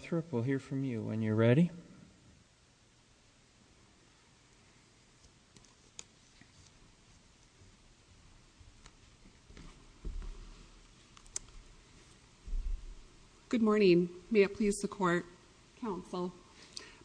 Margo Northrup, we'll hear from you when you're ready. Good morning. May it please the court, counsel.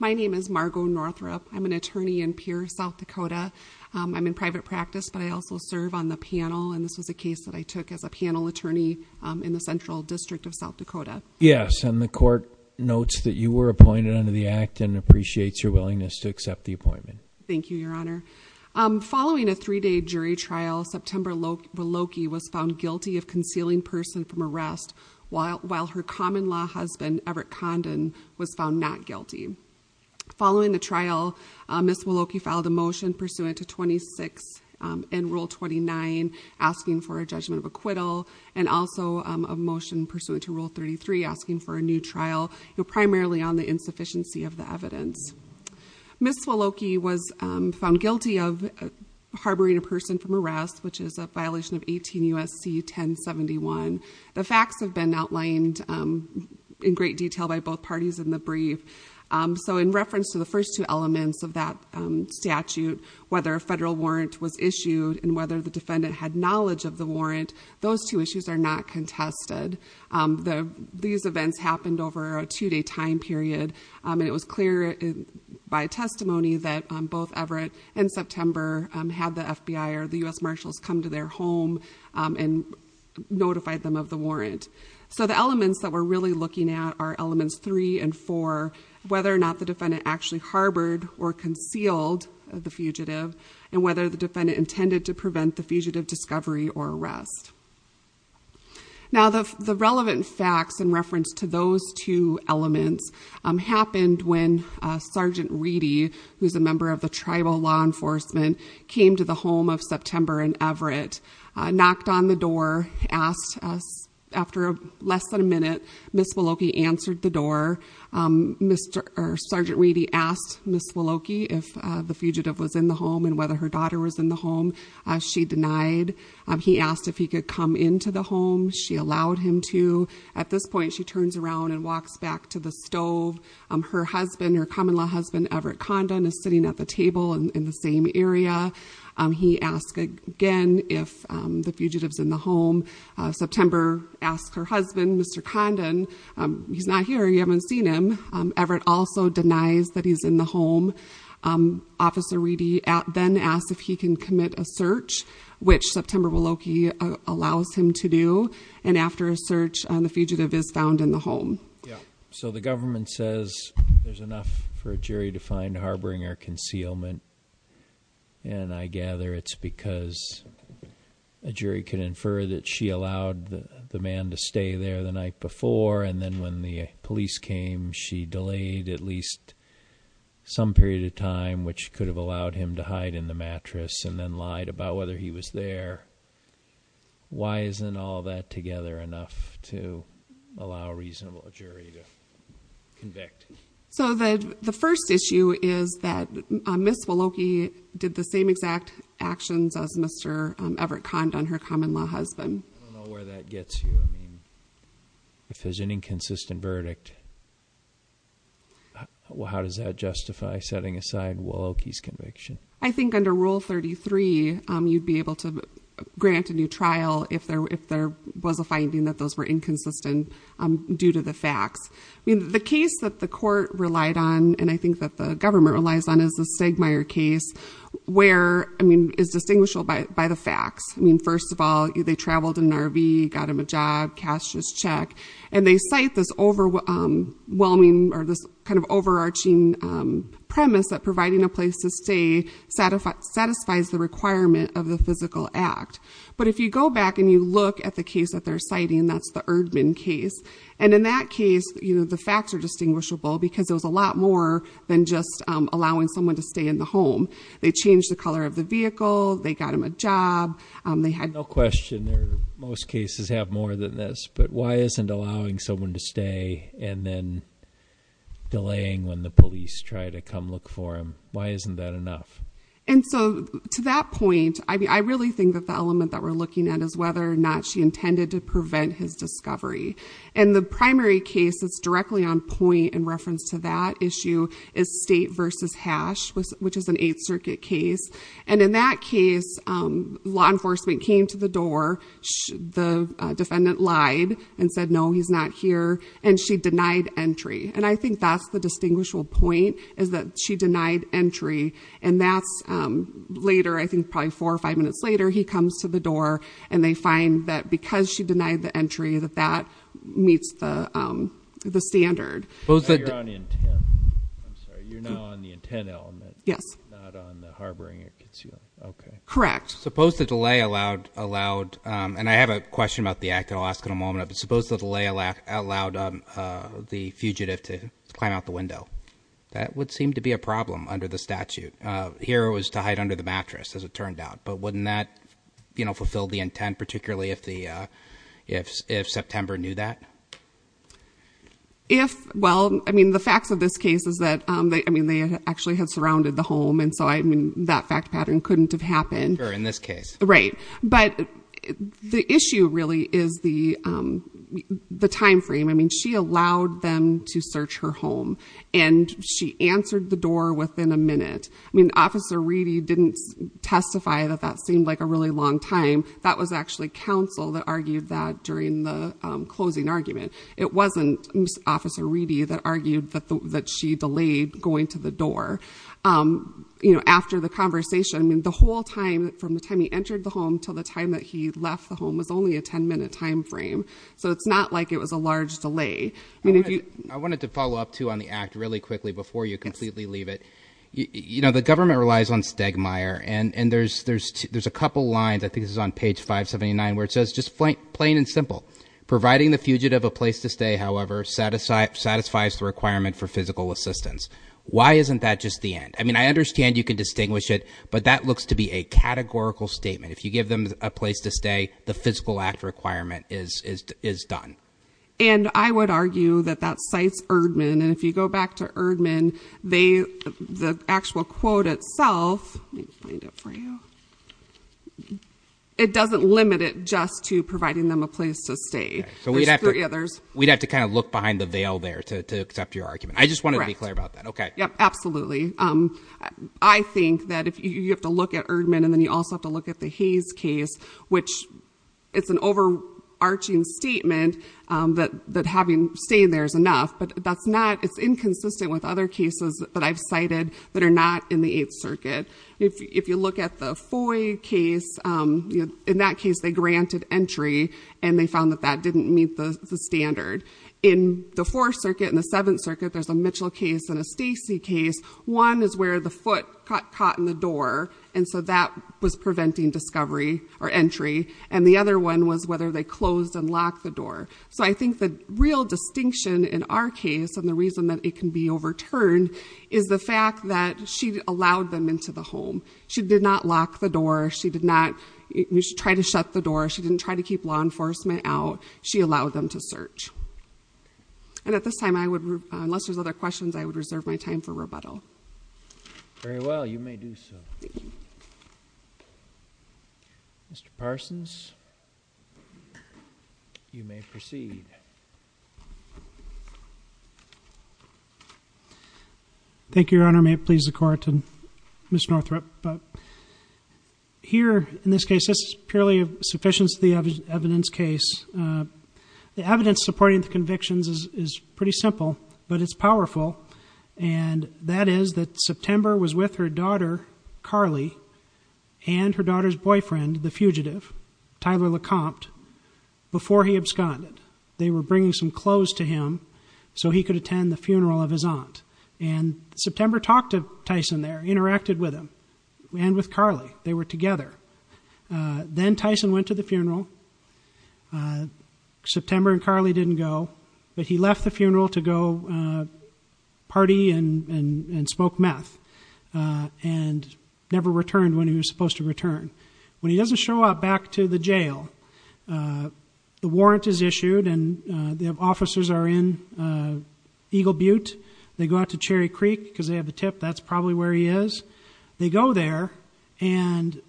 My name is Margo Northrup. I'm an attorney in Pierre, South Dakota. I'm in private practice, but I also serve on the panel, and this was a case that I took as a panel attorney in the Central District of South Dakota. Yes, and the court notes that you were appointed under the act and appreciates your willingness to accept the appointment. Thank you, Your Honor. Following the trial, Ms. Waloke filed a motion pursuant to 26 in Rule 29 asking for a judgment of acquittal and also a motion pursuant to Rule 33 asking for a new trial, primarily on the insufficiency of the evidence. Ms. Waloke was found guilty of harboring a person from arrest, which is a violation of 18 U.S.C. 1071. The facts have been outlined in great detail by both parties in the brief. So in reference to the first two elements of that statute, whether a federal warrant was issued and whether the defendant had knowledge of the warrant, those two issues are not contested. These events happened over a two-day time period, and it was clear by testimony that both Everett and September had the FBI or the U.S. Marshals come to their home and notify them of the warrant. So the elements that we're really looking at are elements three and four, whether or not the defendant actually harbored or concealed the fugitive and whether the defendant intended to prevent the fugitive discovery or arrest. Now, the relevant facts in reference to those two elements happened when Sergeant Reedy, who's a member of the Tribal Law Enforcement, came to the home of September and Everett, knocked on the door, asked after less than a minute, Ms. Waloke answered the door. Sergeant Reedy asked Ms. Waloke if the fugitive was in the home and whether her daughter was in the home. She denied. He asked if he could come into the home. She allowed him to. At this point, she turns around and walks back to the stove. Her husband, her common-law husband, Everett Condon, is sitting at the table in the same area. He asked again if the fugitive's in the home. September asked her husband, Mr. Condon, he's not here, you haven't seen him. Everett also denies that he's in the home. Officer Reedy then asked if he can commit a search, which September Waloke allows him to do. And after a search, the fugitive is found in the home. Yeah, so the government says there's enough for a jury to find harboring or concealment. And I gather it's because a jury can infer that she allowed the man to stay there the night before. And then when the police came, she delayed at least some period of time, which could have allowed him to hide in the mattress and then lied about whether he was there. Why isn't all that together enough to allow a reasonable jury to convict? So the first issue is that Ms. Waloke did the same exact actions as Mr. Everett Condon, her common-law husband. I don't know where that gets you. If there's an inconsistent verdict, how does that justify setting aside Waloke's conviction? I think under Rule 33, you'd be able to grant a new trial if there was a finding that those were inconsistent due to the facts. The case that the court relied on, and I think that the government relies on, is the Stegmaier case, where it's distinguishable by the facts. I mean, first of all, they traveled in an RV, got him a job, cashed his check. And they cite this overwhelming or this kind of overarching premise that providing a place to stay satisfies the requirement of the physical act. But if you go back and you look at the case that they're citing, that's the Erdman case. And in that case, the facts are distinguishable because there was a lot more than just allowing someone to stay in the home. They changed the color of the vehicle. They got him a job. No question, most cases have more than this, but why isn't allowing someone to stay and then delaying when the police try to come look for him, why isn't that enough? And so to that point, I really think that the element that we're looking at is whether or not she intended to prevent his discovery. And the primary case that's directly on point in reference to that issue is State v. Hash, which is an 8th Circuit case. And in that case, law enforcement came to the door, the defendant lied and said, no, he's not here, and she denied entry. And I think that's the distinguishable point is that she denied entry. And that's later, I think probably four or five minutes later, he comes to the door and they find that because she denied the entry that that meets the standard. Now you're on intent. I'm sorry, you're now on the intent element. Yes. Not on the harboring. Okay. Correct. Suppose the delay allowed, and I have a question about the act, and I'll ask in a moment. But suppose the delay allowed the fugitive to climb out the window. That would seem to be a problem under the statute. Here it was to hide under the mattress, as it turned out. But wouldn't that fulfill the intent, particularly if September knew that? If, well, I mean, the facts of this case is that, I mean, they actually had surrounded the home, and so, I mean, that fact pattern couldn't have happened. Sure, in this case. Right. But the issue really is the timeframe. I mean, she allowed them to search her home, and she answered the door within a minute. I mean, Officer Reedy didn't testify that that seemed like a really long time. That was actually counsel that argued that during the closing argument. It wasn't Officer Reedy that argued that she delayed going to the door. You know, after the conversation, I mean, the whole time, from the time he entered the home until the time that he left the home, was only a 10-minute timeframe. So it's not like it was a large delay. I wanted to follow up, too, on the act really quickly before you completely leave it. You know, the government relies on Stegmaier, and there's a couple lines. I think this is on page 579 where it says, just plain and simple, providing the fugitive a place to stay, however, satisfies the requirement for physical assistance. Why isn't that just the end? I mean, I understand you can distinguish it, but that looks to be a categorical statement. If you give them a place to stay, the physical act requirement is done. And I would argue that that cites Erdman, and if you go back to Erdman, the actual quote itself, let me find it for you, it doesn't limit it just to providing them a place to stay. There's three others. We'd have to kind of look behind the veil there to accept your argument. I just wanted to be clear about that. Yep, absolutely. I think that you have to look at Erdman, and then you also have to look at the Hayes case, which it's an overarching statement that having stayed there is enough, but it's inconsistent with other cases that I've cited that are not in the Eighth Circuit. If you look at the Foy case, in that case they granted entry, and they found that that didn't meet the standard. In the Fourth Circuit and the Seventh Circuit, there's a Mitchell case and a Stacy case. One is where the foot got caught in the door, and so that was preventing discovery or entry. And the other one was whether they closed and locked the door. So I think the real distinction in our case, and the reason that it can be overturned, is the fact that she allowed them into the home. She did not lock the door. She did not try to shut the door. She didn't try to keep law enforcement out. She allowed them to search. And at this time, unless there's other questions, I would reserve my time for rebuttal. Very well, you may do so. Thank you. Mr. Parsons, you may proceed. Thank you, Your Honor. May it please the Court and Ms. Northrup. Here, in this case, this is purely sufficient to the evidence case. The evidence supporting the convictions is pretty simple, but it's powerful, and that is that September was with her daughter, Carly, and her daughter's boyfriend, the fugitive, Tyler LeCompte, before he absconded. They were bringing some clothes to him so he could attend the funeral of his aunt. And September talked to Tyson there, interacted with him and with Carly. They were together. Then Tyson went to the funeral. September and Carly didn't go. But he left the funeral to go party and smoke meth and never returned when he was supposed to return. When he doesn't show up back to the jail, the warrant is issued and the officers are in Eagle Butte. They go out to Cherry Creek because they have the tip that's probably where he is. They go there, and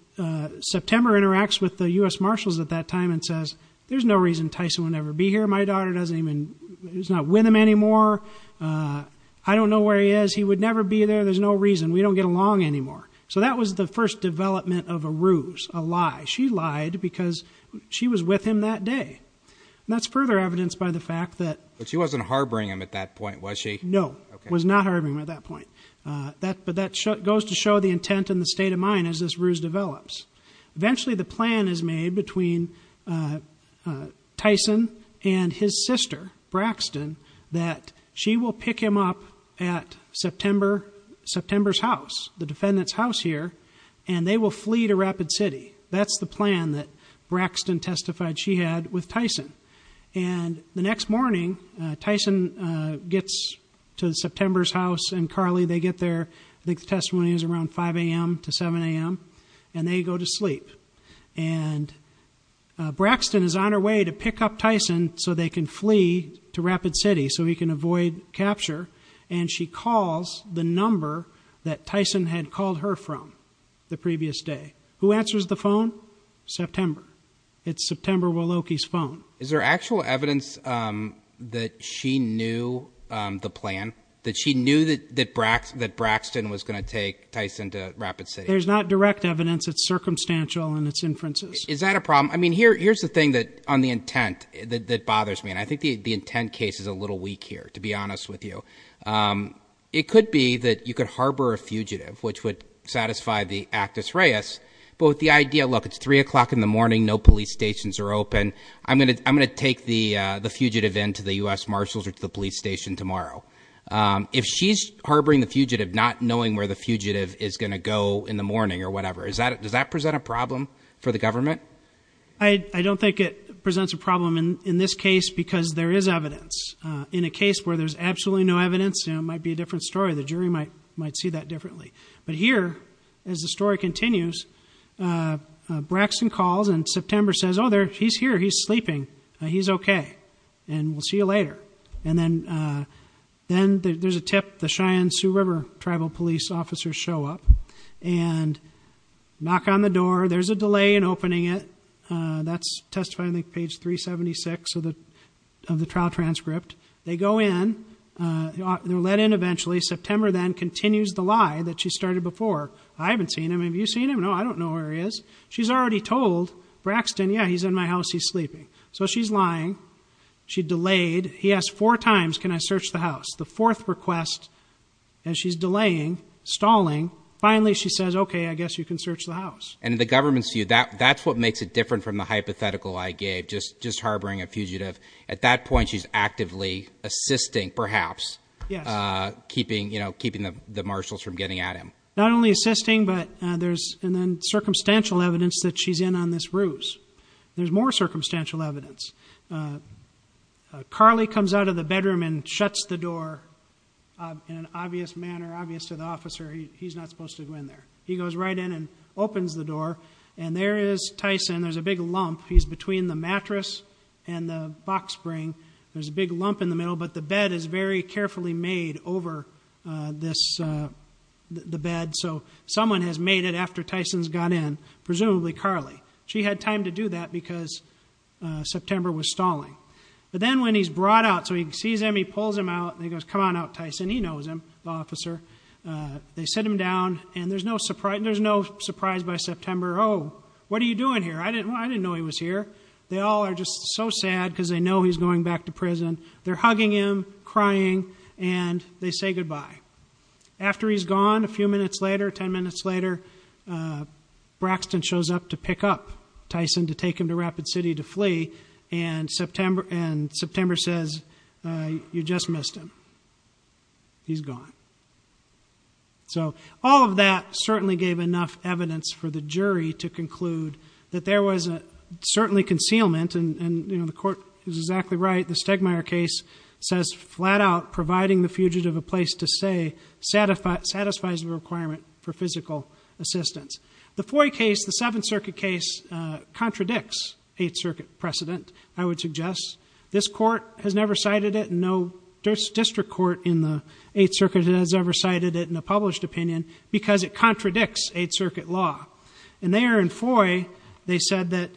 September interacts with the U.S. Marshals at that time and says, there's no reason Tyson would never be here. My daughter is not with him anymore. I don't know where he is. He would never be there. There's no reason. We don't get along anymore. So that was the first development of a ruse, a lie. She lied because she was with him that day. And that's further evidenced by the fact that But she wasn't harboring him at that point, was she? No, was not harboring him at that point. But that goes to show the intent and the state of mind as this ruse develops. Eventually, the plan is made between Tyson and his sister, Braxton, that she will pick him up at September's house, the defendant's house here, and they will flee to Rapid City. That's the plan that Braxton testified she had with Tyson. And the next morning, Tyson gets to September's house, and Carly, they get there. I think the testimony is around 5 a.m. to 7 a.m. And they go to sleep. And Braxton is on her way to pick up Tyson so they can flee to Rapid City so he can avoid capture. And she calls the number that Tyson had called her from the previous day. Who answers the phone? September. It's September Wloki's phone. Is there actual evidence that she knew the plan, that she knew that Braxton was going to take Tyson to Rapid City? There's not direct evidence. It's circumstantial in its inferences. Is that a problem? I mean, here's the thing on the intent that bothers me, and I think the intent case is a little weak here, to be honest with you. It could be that you could harbor a fugitive, which would satisfy the actus reus, but with the idea, look, it's 3 o'clock in the morning, no police stations are open, I'm going to take the fugitive into the U.S. Marshals or to the police station tomorrow. If she's harboring the fugitive not knowing where the fugitive is going to go in the morning or whatever, does that present a problem for the government? I don't think it presents a problem in this case because there is evidence. In a case where there's absolutely no evidence, it might be a different story. The jury might see that differently. But here, as the story continues, Braxton calls and September says, oh, he's here, he's sleeping, he's okay, and we'll see you later. And then there's a tip, the Cheyenne Sioux River tribal police officers show up and knock on the door, there's a delay in opening it. That's testified on page 376 of the trial transcript. They go in, they're let in eventually. September then continues the lie that she started before. I haven't seen him, have you seen him? No, I don't know where he is. She's already told Braxton, yeah, he's in my house, he's sleeping. So she's lying. She delayed. He asked four times, can I search the house? The fourth request, and she's delaying, stalling. Finally, she says, okay, I guess you can search the house. And the government's view, that's what makes it different from the hypothetical I gave, just harboring a fugitive. At that point, she's actively assisting, perhaps, keeping the marshals from getting at him. Not only assisting, but there's circumstantial evidence that she's in on this ruse. There's more circumstantial evidence. Carly comes out of the bedroom and shuts the door in an obvious manner, obvious to the officer. He's not supposed to go in there. He goes right in and opens the door, and there is Tyson. There's a big lump. He's between the mattress and the box spring. There's a big lump in the middle, but the bed is very carefully made over the bed. So someone has made it after Tyson's got in, presumably Carly. She had time to do that because September was stalling. But then when he's brought out, so he sees him, he pulls him out, and he goes, come on out, Tyson. He knows him, the officer. They sit him down, and there's no surprise by September. Oh, what are you doing here? I didn't know he was here. They all are just so sad because they know he's going back to prison. They're hugging him, crying, and they say goodbye. After he's gone, a few minutes later, 10 minutes later, Braxton shows up to pick up Tyson, to take him to Rapid City to flee, and September says, you just missed him. He's gone. So all of that certainly gave enough evidence for the jury to conclude that there was certainly concealment, and the court is exactly right. The Stegmayer case says flat out providing the fugitive a place to stay satisfies the requirement for physical assistance. The Foy case, the Seventh Circuit case, contradicts Eighth Circuit precedent, I would suggest. This court has never cited it, and no district court in the Eighth Circuit has ever cited it in a published opinion because it contradicts Eighth Circuit law. And there in Foy, they said that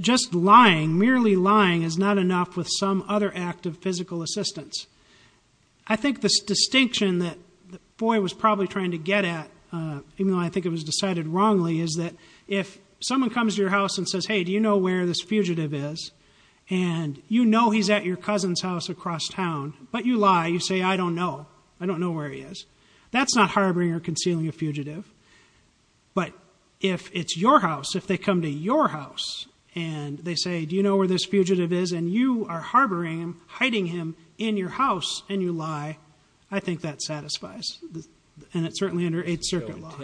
just lying, merely lying, is not enough with some other act of physical assistance. I think the distinction that Foy was probably trying to get at, even though I think it was decided wrongly, is that if someone comes to your house and says, hey, do you know where this fugitive is, and you know he's at your cousin's house across town, but you lie, you say, I don't know. I don't know where he is. That's not harboring or concealing a fugitive. But if it's your house, if they come to your house and they say, do you know where this fugitive is, and you are harboring him, hiding him in your house, and you lie, I think that satisfies. And it's certainly under Eighth Circuit law.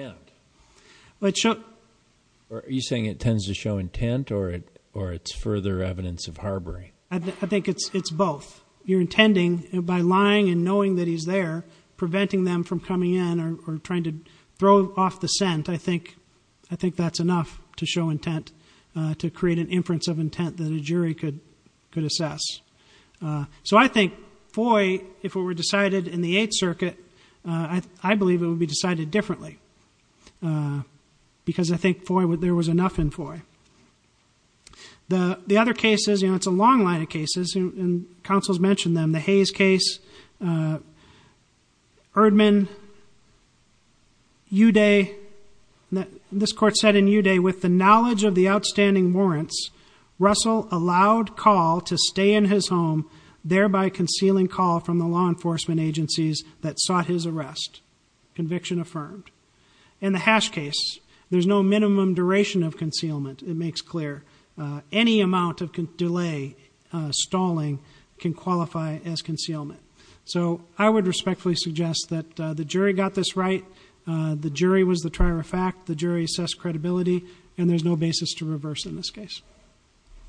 Are you saying it tends to show intent or it's further evidence of harboring? I think it's both. You're intending by lying and knowing that he's there, preventing them from coming in or trying to throw off the scent, I think that's enough to show intent, to create an inference of intent that a jury could assess. So I think Foy, if it were decided in the Eighth Circuit, I believe it would be decided differently because I think there was enough in Foy. The other cases, you know, it's a long line of cases, and counsels mentioned them, the Hayes case, Erdman, Uday. This court said in Uday, with the knowledge of the outstanding warrants, Russell allowed Call to stay in his home, thereby concealing Call from the law enforcement agencies that sought his arrest. Conviction affirmed. In the Hash case, there's no minimum duration of concealment. It makes clear any amount of delay, stalling, can qualify as concealment. So I would respectfully suggest that the jury got this right. The jury was the trier of fact. The jury assessed credibility, and there's no basis to reverse in this case.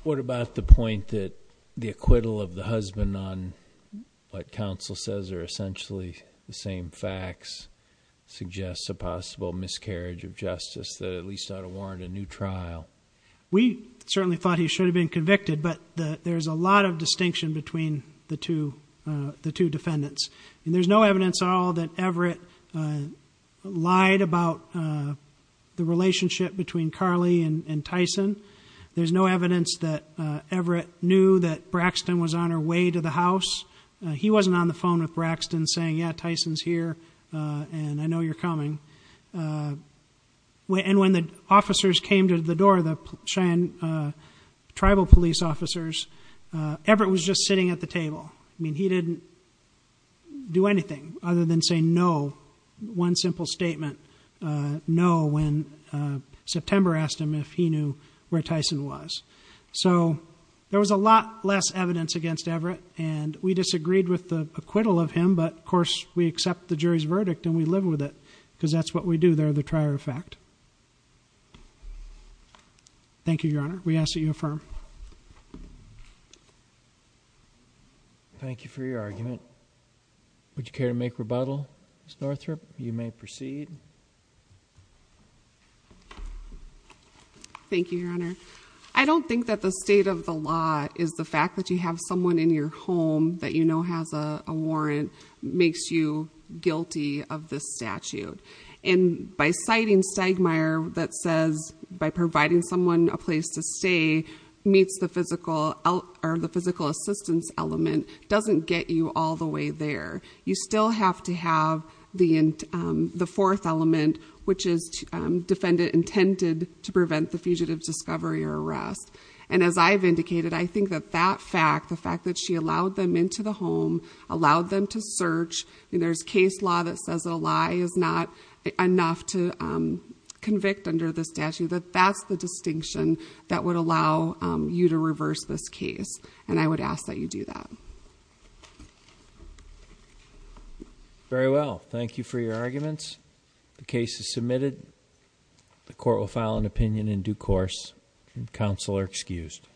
What about the point that the acquittal of the husband on what counsel says are essentially the same facts suggests a possible miscarriage of justice that at least ought to warrant a new trial? We certainly thought he should have been convicted, but there's a lot of distinction between the two defendants. There's no evidence at all that Everett lied about the relationship between Carly and Tyson. There's no evidence that Everett knew that Braxton was on her way to the house. He wasn't on the phone with Braxton saying, yeah, Tyson's here, and I know you're coming. And when the officers came to the door, the Cheyenne tribal police officers, Everett was just sitting at the table. I mean, he didn't do anything other than say no, one simple statement, no, when September asked him if he knew where Tyson was. So there was a lot less evidence against Everett, and we disagreed with the acquittal of him, but of course we accept the jury's verdict and we live with it because that's what we do. They're the trier of fact. Thank you, Your Honor. We ask that you affirm. Thank you for your argument. Would you care to make rebuttal, Ms. Northrop? You may proceed. Thank you, Your Honor. I don't think that the state of the law is the fact that you have someone in your home that you know has a warrant makes you guilty of this statute. And by citing Stegemeyer that says by providing someone a place to stay meets the physical assistance element doesn't get you all the way there. You still have to have the fourth element, which is intended to prevent the fugitive's discovery or arrest. And as I've indicated, I think that that fact, the fact that she allowed them into the home, allowed them to search, and there's case law that says a lie is not enough to convict under the statute, that that's the distinction that would allow you to reverse this case. And I would ask that you do that. Very well. Thank you for your arguments. The case is submitted. The court will file an opinion in due course. Counsel are excused.